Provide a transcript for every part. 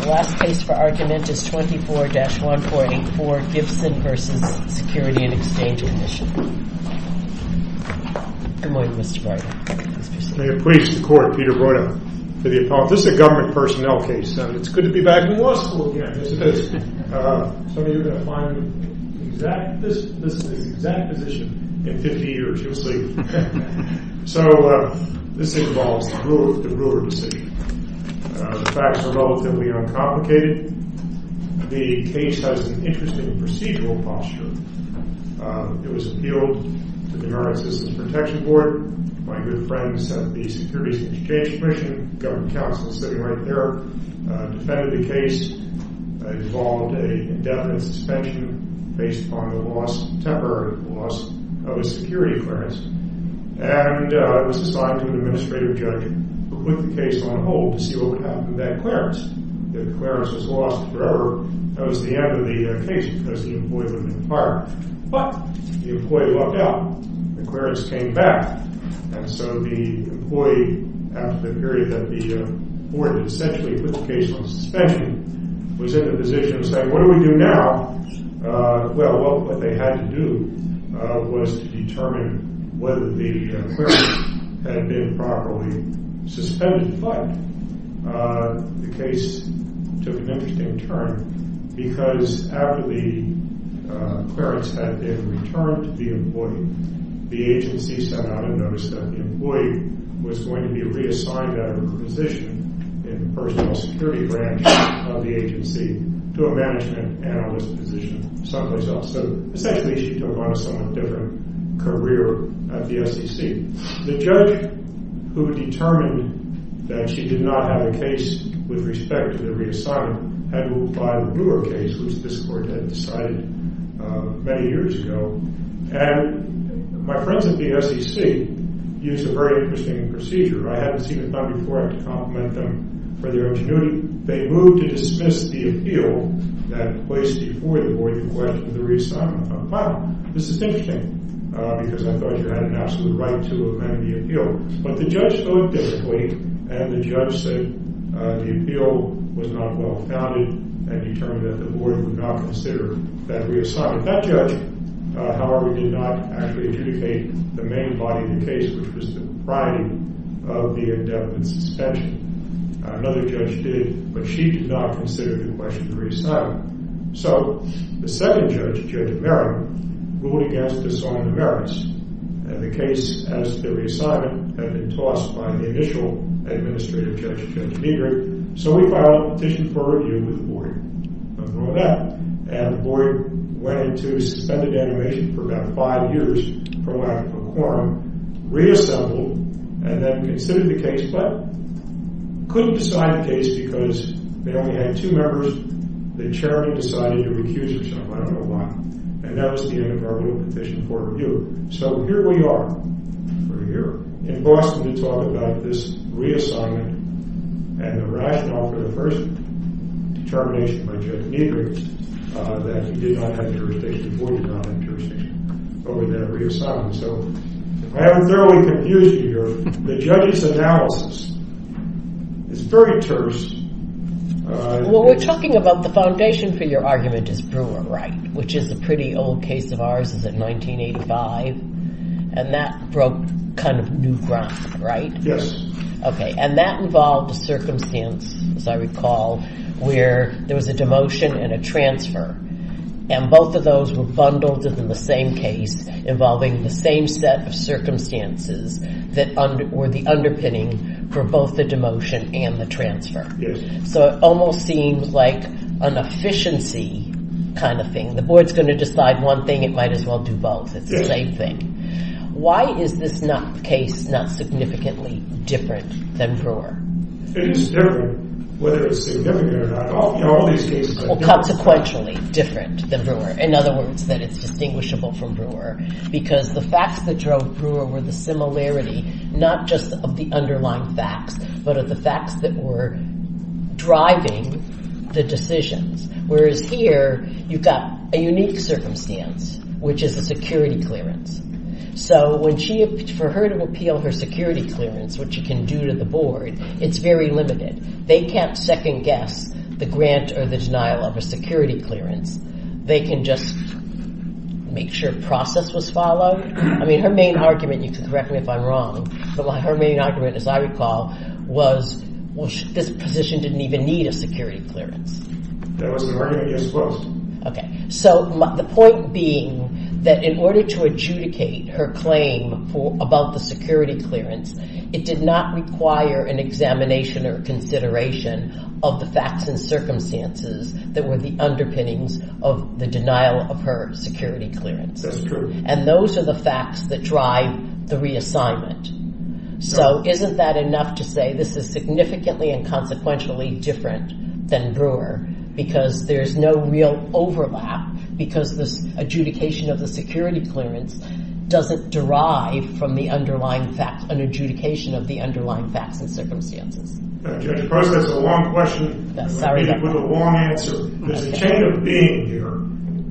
The last case for argument is 24-1484, Gibson v. Security and Exchange Commission. Good morning, Mr. Breuder. May it please the Court, Peter Breuder for the appellate. This is a government personnel case. It's good to be back in law school again. Some of you are going to find this is the exact position in 50 years, you'll see. So, this involves the Breuder decision. The facts are relatively uncomplicated. The case has an interesting procedural posture. It was appealed to the American Citizens Protection Board. My good friends at the Securities and Exchange Commission, the government counsel sitting right there, defended the case. It involved an indefinite suspension based upon the temporary loss of a security clearance. And it was assigned to an administrative judge who put the case on hold to see what would happen to that clearance. If the clearance was lost forever, that was the end of the case because the employee would have been fired. But the employee lucked out. The clearance came back. And so the employee, after the period that the board essentially put the case on suspension, was in the position of saying, what do we do now? Well, what they had to do was to determine whether the clearance had been properly suspended. But the case took an interesting turn because after the clearance had been returned to the employee, the agency sent out a notice that the employee was going to be reassigned out of her position in the personal security branch of the agency to a management analyst position someplace else. So essentially she took on a somewhat different career at the SEC. The judge who determined that she did not have a case with respect to the reassignment had to apply the Breuer case, which this court had decided many years ago. And my friends at the SEC used a very interesting procedure. I hadn't seen it done before. I have to compliment them for their ingenuity. They moved to dismiss the appeal that placed before the board the question of the reassignment of a file. This is interesting because I thought you had an absolute right to amend the appeal. But the judge voted differently, and the judge said the appeal was not well-founded and determined that the board would not consider that reassignment. Now that judge, however, did not actually adjudicate the main body of the case, which was the propriety of the indebted suspension. Another judge did, but she did not consider the question of the reassignment. So the second judge, Judge Merrick, ruled against this on the merits. And the case, as the reassignment, had been tossed by the initial administrative judge, Judge Meagher. So we filed a petition for review with the board on that. And the board went into suspended animation for about five years for lack of a quorum, reassembled, and then considered the case but couldn't decide the case because they only had two members. The chairman decided to recuse herself. I don't know why. And that was the end of our little petition for review. So here we are. We're here in Boston to talk about this reassignment and the rationale for the first determination by Judge Meagher that he did not have jurisdiction, the board did not have jurisdiction over that reassignment. So I am thoroughly confused here. The judge's analysis is very terse. Well, we're talking about the foundation for your argument is Brewer, right, which is a pretty old case of ours. Is it 1985? And that broke kind of new ground, right? Yes. Okay. And that involved a circumstance, as I recall, where there was a demotion and a transfer. And both of those were bundled in the same case involving the same set of circumstances that were the underpinning for both the demotion and the transfer. So it almost seems like an efficiency kind of thing. The board's going to decide one thing. It might as well do both. It's the same thing. Why is this case not significantly different than Brewer? It is different whether it's significant or not. Well, consequentially different than Brewer. In other words, that it's distinguishable from Brewer because the facts that drove Brewer were the similarity not just of the underlying facts but of the facts that were driving the decisions. Whereas here, you've got a unique circumstance, which is a security clearance. So for her to appeal her security clearance, what she can do to the board, it's very limited. They can't second-guess the grant or the denial of a security clearance. They can just make sure a process was followed. I mean, her main argument, and you can correct me if I'm wrong, but her main argument, as I recall, was this position didn't even need a security clearance. That was her argument, I suppose. Okay. So the point being that in order to adjudicate her claim about the security clearance, it did not require an examination or consideration of the facts and circumstances that were the underpinnings of the denial of her security clearance. That's true. And those are the facts that drive the reassignment. So isn't that enough to say this is significantly and consequentially different than Brewer because there's no real overlap because this adjudication of the security clearance doesn't derive from the underlying facts, an adjudication of the underlying facts and circumstances? Judge, of course, that's a long question with a long answer. There's a chain of being here.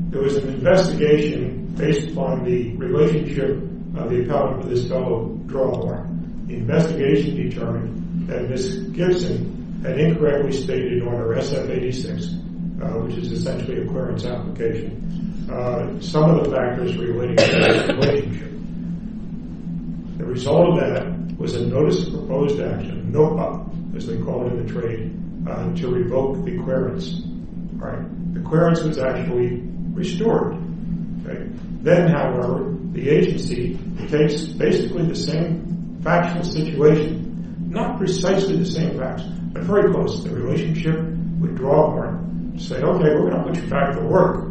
There was an investigation based upon the relationship of the appellant with his fellow drawer. The investigation determined that Ms. Gibson had incorrectly stated on her SF-86, which is essentially a clearance application, some of the factors relating to that relationship. The result of that was a notice of proposed action, a NOPA, as they call it in the trade, to revoke the clearance. The clearance was actually restored. Then, however, the agency takes basically the same factual situation, not precisely the same facts, but very close to the relationship with drawer and say, okay, we're going to put you back to work,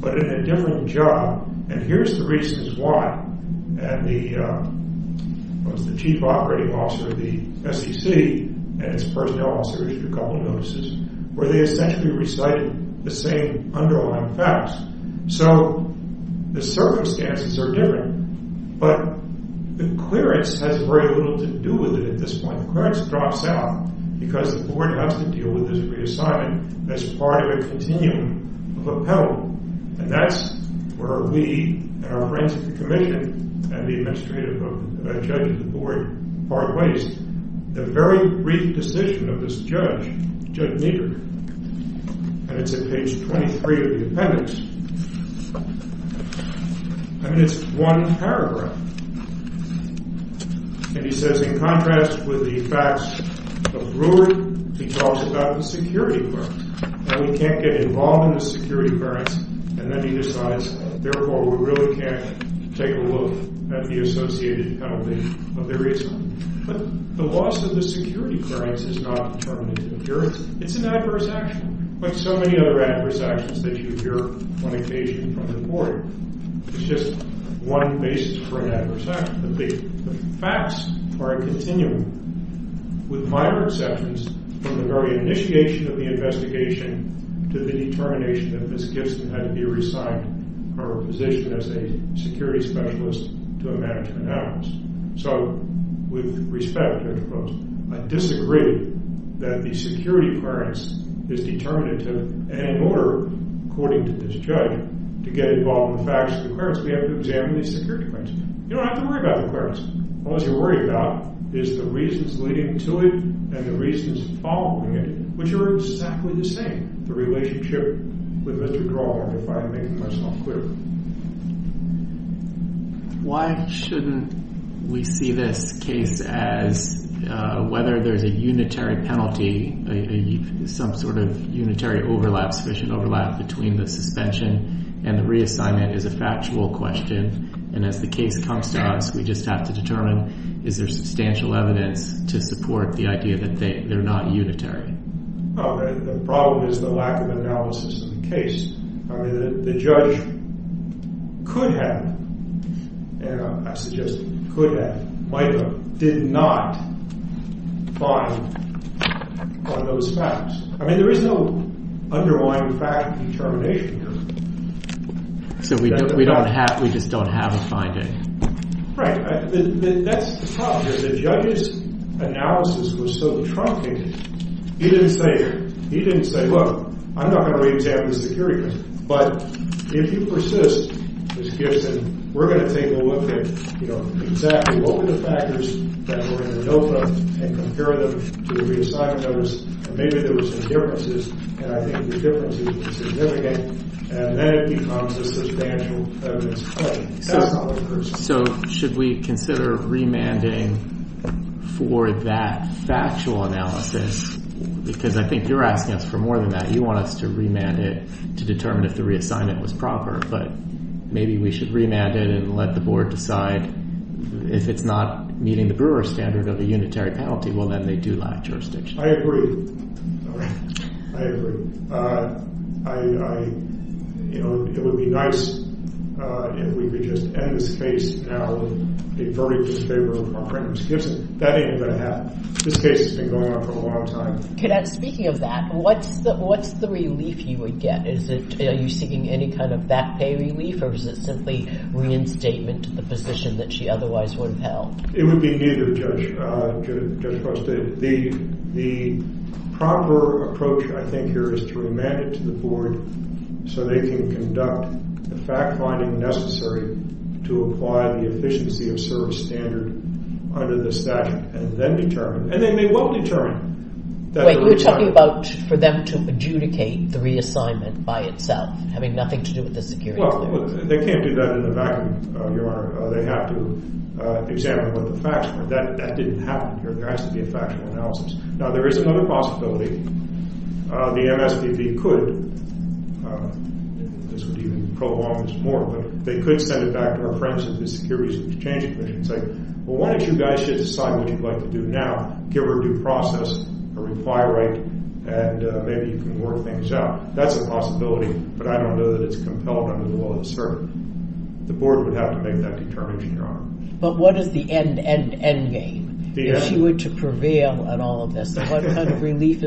but in a different job. And here's the reasons why. And the chief operating officer of the SEC and his personnel officers issued a couple of notices where they essentially recited the same underlying facts. So the circumstances are different, but the clearance has very little to do with it at this point. The clearance drops out because the board has to deal with this reassignment as part of a continuum of appellant. And that's where we and our friends at the commission and the administrative judge of the board, the very brief decision of this judge, Judge Niebuhr, and it's at page 23 of the appendix. I mean it's one paragraph. And he says in contrast with the facts of Brewer, he talks about the security clearance. Now we can't get involved in the security clearance, and then he decides, therefore we really can't take a look at the associated penalty of the reassignment. But the loss of the security clearance is not determined in the clearance. It's an adverse action like so many other adverse actions that you hear on occasion from the board. It's just one basis for an adverse action. The facts are a continuum with minor exceptions from the very initiation of the investigation to the determination that Ms. Gibson had to be reassigned her position as a security specialist to a management analyst. So with respect, I disagree that the security clearance is determined in order, according to this judge, to get involved in the facts of the clearance. We have to examine the security clearance. You don't have to worry about the clearance. All you have to worry about is the reasons leading to it and the reasons following it, which are exactly the same. The relationship with Mr. Crawford, if I can make myself clear. Why shouldn't we see this case as whether there's a unitary penalty, some sort of unitary overlap, sufficient overlap between the suspension and the reassignment is a factual question. And as the case comes to us, we just have to determine, is there substantial evidence to support the idea that they're not unitary? The problem is the lack of analysis in the case. The judge could have, and I suggest could have, might have, did not find on those facts. I mean there is no undermining fact determination here. So we just don't have a finding? Right. That's the problem here. The judge's analysis was so truncated. He didn't say, look, I'm not going to wait to have the security clearance. But if you persist, we're going to take a look at exactly what were the factors that we're going to know from and compare them to the reassignment notice, and maybe there were some differences, and I think the differences were significant, and then it becomes a substantial evidence claim. So should we consider remanding for that factual analysis? Because I think you're asking us for more than that. You want us to remand it to determine if the reassignment was proper. But maybe we should remand it and let the board decide if it's not meeting the Brewer standard of a unitary penalty. Well, then they do lack jurisdiction. I agree. I agree. You know, it would be nice if we could just end this case now and defer it to the favor of our friend Ms. Gibson. That ain't going to happen. This case has been going on for a long time. Cadet, speaking of that, what's the relief you would get? Are you seeking any kind of back pay relief, or is it simply reinstatement to the position that she otherwise would have held? It would be neither, Judge Costa. The proper approach, I think, here is to remand it to the board so they can conduct the fact-finding necessary to apply the efficiency of service standard under the statute and then determine. And then they won't determine. Wait, you're talking about for them to adjudicate the reassignment by itself, having nothing to do with the security clearance. Well, they can't do that in a vacuum, Your Honor. They have to examine what the facts were. That didn't happen here. There has to be a factual analysis. Now, there is another possibility. The MSPB could, and this would even prolong this more, but they could send it back to our friends at the Securities and Exchange Commission and say, well, why don't you guys just decide what you'd like to do now, give her due process, a reply right, and maybe you can work things out. That's a possibility, but I don't know that it's compelled under the law to serve. The board would have to make that determination, Your Honor. But what is the end, end, end game? If she were to prevail at all of this, what kind of relief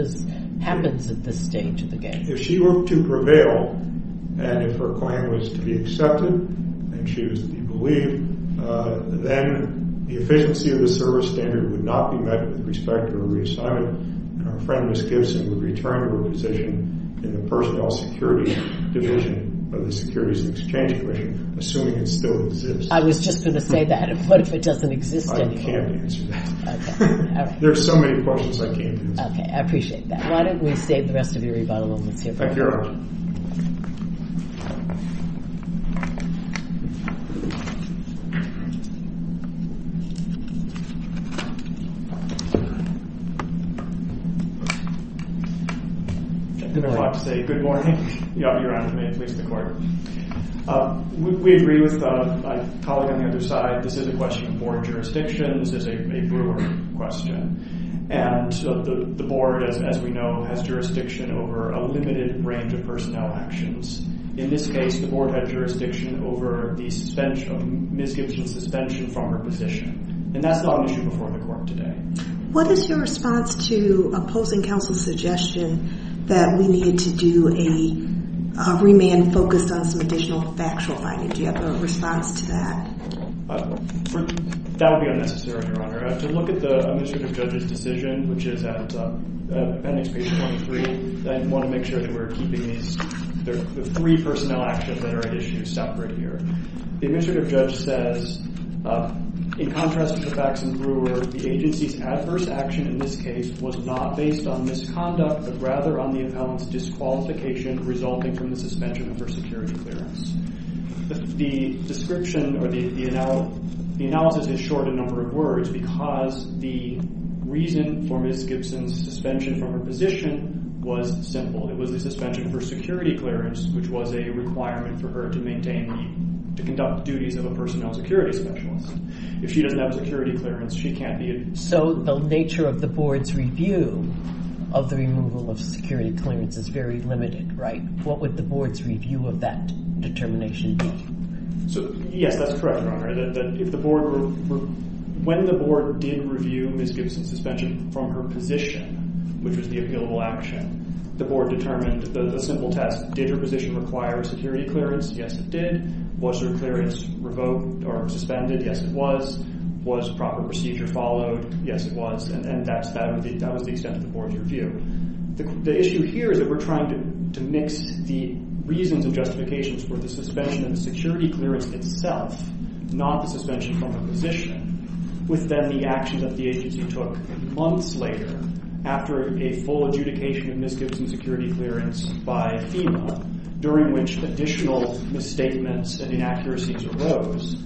happens at this stage of the game? If she were to prevail and if her claim was to be accepted and she was to be believed, then the efficiency of the service standard would not be met with respect to her reassignment. Our friend, Ms. Gibson, would return to her position in the personnel security division of the Securities and Exchange Commission, assuming it still exists. I was just going to say that. What if it doesn't exist anymore? I can't answer that. There are so many questions I can't answer. Okay, I appreciate that. Why don't we save the rest of your rebuttal moments here for later? I don't have a lot to say. Good morning. Your Honor, may it please the Court. We agree with my colleague on the other side. This is a question of board jurisdiction. This is a Brewer question. And the board, as we know, has jurisdiction over a limited range of personnel actions. In this case, the board had jurisdiction over Ms. Gibson's suspension from her position. And that's not an issue before the Court today. What is your response to opposing counsel's suggestion that we needed to do a remand focused on some additional factual items? Do you have a response to that? That would be unnecessary, Your Honor. To look at the administrative judge's decision, which is at appendix page 23, I want to make sure that we're keeping the three personnel actions that are at issue separate here. The administrative judge says, in contrast to Faxon Brewer, the agency's adverse action in this case was not based on misconduct, but rather on the appellant's disqualification resulting from the suspension of her security clearance. The description or the analysis is short in a number of words because the reason for Ms. Gibson's suspension from her position was simple. It was the suspension of her security clearance, which was a requirement for her to conduct duties of a personnel security specialist. If she doesn't have a security clearance, she can't be admitted. So the nature of the board's review of the removal of security clearance is very limited, right? What would the board's review of that determination be? Yes, that's correct, Your Honor. When the board did review Ms. Gibson's suspension from her position, which was the appealable action, the board determined a simple test. Did her position require security clearance? Yes, it did. Was her clearance revoked or suspended? Yes, it was. Was proper procedure followed? Yes, it was. And that was the extent of the board's review. The issue here is that we're trying to mix the reasons and justifications for the suspension and the security clearance itself, not the suspension from her position, with then the action that the agency took months later after a full adjudication of Ms. Gibson's security clearance by FEMA, during which additional misstatements and inaccuracies arose.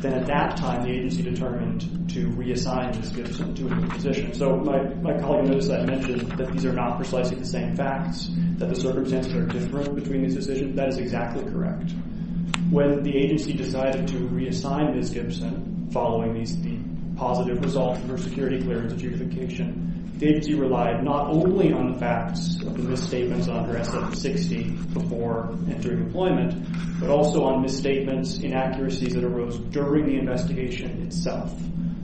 Then at that time, the agency determined to reassign Ms. Gibson to a new position. So my colleague noticed that I mentioned that these are not precisely the same facts, that the circumstances are different between these decisions. That is exactly correct. When the agency decided to reassign Ms. Gibson following the positive result of her security clearance adjudication, the agency relied not only on the facts of the misstatements under SF-60 before entering employment, but also on misstatements, inaccuracies that arose during the investigation itself.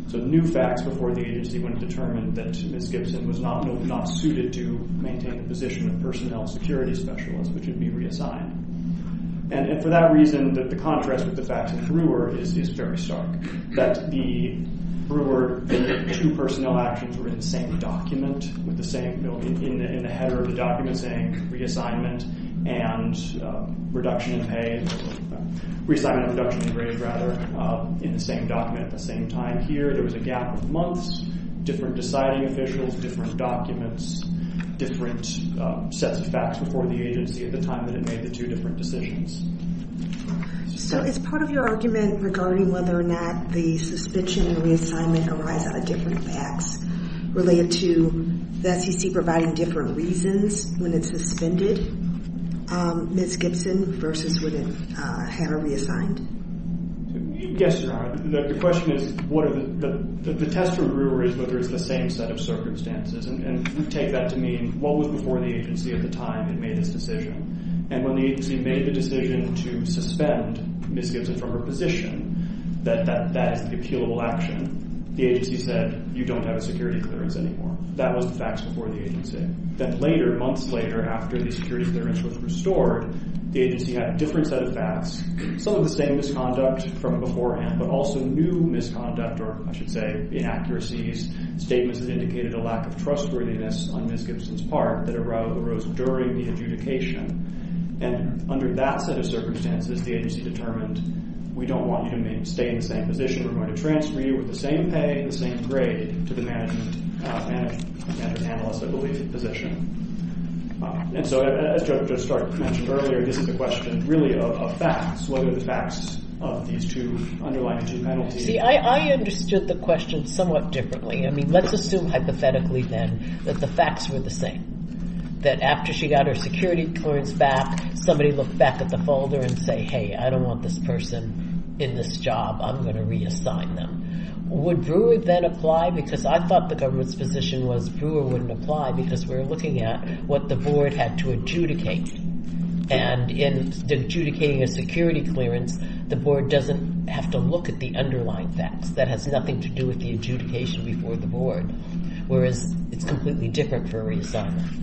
So new facts before the agency would determine that Ms. Gibson was not suited to maintain the position of personnel security specialist, which would be reassigned. And for that reason, the contrast with the facts of Brewer is very stark, that the Brewer two personnel actions were in the same document, in the header of the document saying reassignment and reduction in pay, reassignment and reduction in grade, rather, in the same document at the same time. Here there was a gap of months, different deciding officials, different documents, different sets of facts before the agency at the time that it made the two different decisions. So is part of your argument regarding whether or not the suspension and reassignment arise out of different facts related to the SEC providing different reasons when it suspended Ms. Gibson versus when it had her reassigned? Yes, Your Honor. The question is, the test for Brewer is whether it's the same set of circumstances. And we take that to mean what was before the agency at the time it made this decision. And when the agency made the decision to suspend Ms. Gibson from her position, that is the appealable action, the agency said, you don't have a security clearance anymore. That was the facts before the agency. Then later, months later, after the security clearance was restored, the agency had a different set of facts, some of the same misconduct from beforehand, but also new misconduct or, I should say, inaccuracies, statements that indicated a lack of trustworthiness on Ms. Gibson's part that arose during the adjudication. And under that set of circumstances, the agency determined, we don't want you to stay in the same position. We're going to transfer you with the same pay and the same grade to the management analyst, I believe, position. And so as Judge Stark mentioned earlier, this is a question really of facts, what are the facts of these two underlying two penalties. You see, I understood the question somewhat differently. I mean, let's assume hypothetically then that the facts were the same, that after she got her security clearance back, somebody looked back at the folder and say, hey, I don't want this person in this job, I'm going to reassign them. Would Brewer then apply? Because I thought the government's position was Brewer wouldn't apply because we're looking at what the board had to adjudicate. And in adjudicating a security clearance, the board doesn't have to look at the underlying facts. That has nothing to do with the adjudication before the board, whereas it's completely different for reassignment.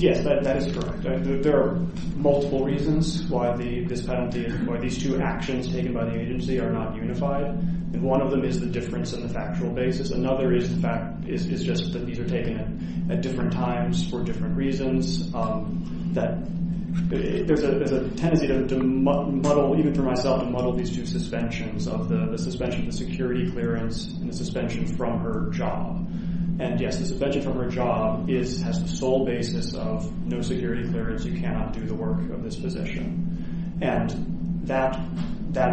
Yes, that is correct. There are multiple reasons why this penalty, why these two actions taken by the agency are not unified. And one of them is the difference in the factual basis. Another is the fact is just that these are taken at different times for different reasons. There's a tendency to muddle, even for myself, to muddle these two suspensions of the suspension of the security clearance and the suspension from her job. And yes, the suspension from her job has the sole basis of no security clearance, you cannot do the work of this position. And that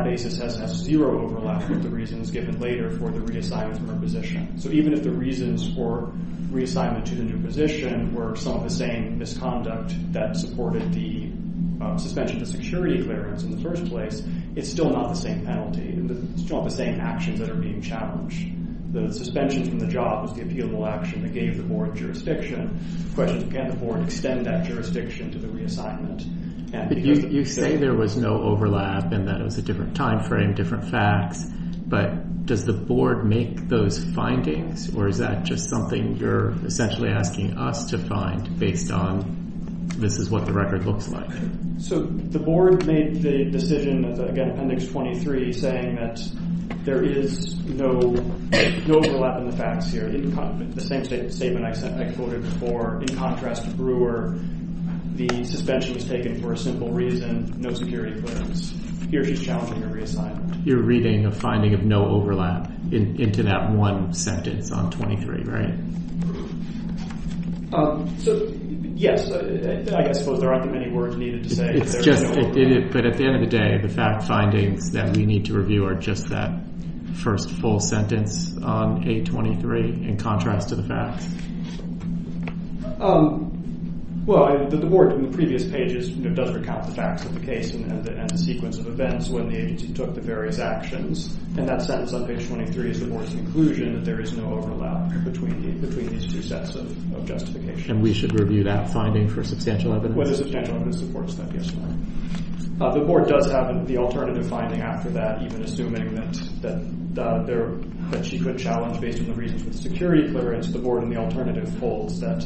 basis has zero overlap with the reasons given later for the reassignment from her position. So even if the reasons for reassignment to the new position were some of the same misconduct that supported the suspension of security clearance in the first place, it's still not the same penalty. It's still not the same actions that are being challenged. The suspension from the job was the appealable action that gave the board jurisdiction. The question is, can the board extend that jurisdiction to the reassignment? You say there was no overlap and that it was a different time frame, different facts. But does the board make those findings or is that just something you're essentially asking us to find based on this is what the record looks like? So the board made the decision, again, Appendix 23, saying that there is no overlap in the facts here. The same statement I quoted before, in contrast to Brewer, the suspension was taken for a simple reason, no security clearance. Here she's challenging a reassignment. You're reading a finding of no overlap into that one sentence on 23, right? So yes, I suppose there aren't that many words needed to say there is no overlap. But at the end of the day, the fact findings that we need to review are just that first full sentence on 823 in contrast to the facts. Well, the board in the previous pages does recount the facts of the case and the sequence of events when the agency took the various actions. And that sentence on page 23 is the board's conclusion that there is no overlap between these two sets of justification. And we should review that finding for substantial evidence? Well, there's substantial evidence that supports that, yes. The board does have the alternative finding after that, even assuming that she could challenge based on the reasons for the security clearance. The board in the alternative holds that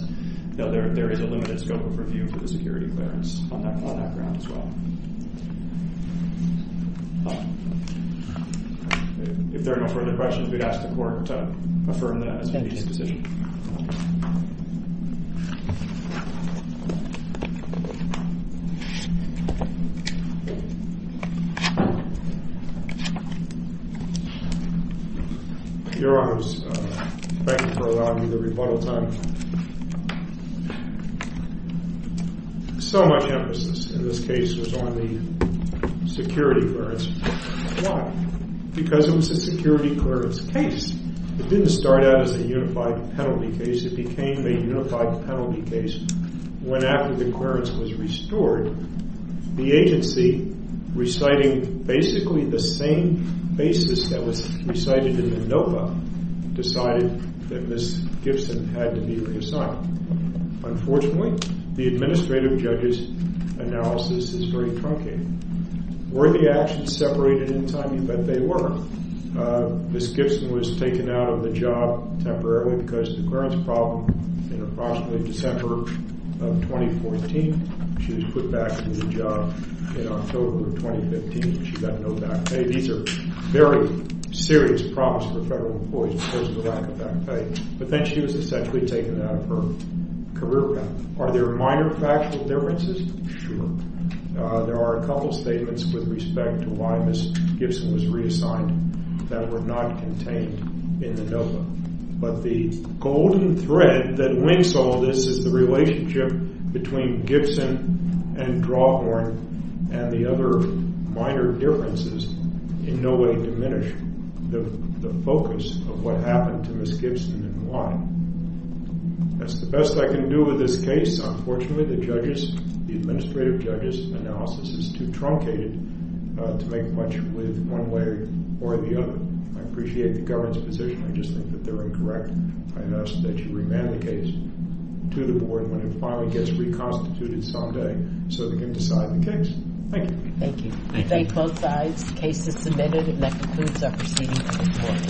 there is a limited scope of review for the security clearance on that ground as well. If there are no further questions, we'd ask the court to affirm that as a case decision. Your Honors, thank you for allowing me the rebuttal time. So much emphasis in this case was on the security clearance. Why? Because it was a security clearance case. It didn't start out as a unified penalty case. It became a unified penalty case when after the clearance was restored, the agency, reciting basically the same basis that was recited in the NOPA, decided that Ms. Gibson had to be reassigned. Unfortunately, the administrative judge's analysis is very truncated. Were the actions separated in time? You bet they were. Ms. Gibson was taken out of the job temporarily because of the clearance problem in approximately December of 2014. She was put back in the job in October of 2015, and she got no back pay. These are very serious problems for federal employees because of the lack of back pay. But then she was essentially taken out of her career path. Are there minor factual differences? Sure. There are a couple of statements with respect to why Ms. Gibson was reassigned that were not contained in the NOPA. But the golden thread that links all this is the relationship between Gibson and Drawhorn and the other minor differences in no way diminish the focus of what happened to Ms. Gibson and why. That's the best I can do with this case. Unfortunately, the judge's, the administrative judge's analysis is too truncated to make much with one way or the other. I appreciate the government's position. I just think that they're incorrect. I ask that you remand the case to the board when it finally gets reconstituted someday so they can decide the case. Thank you. Thank you. We thank both sides. The case is submitted, and that concludes our proceedings this morning.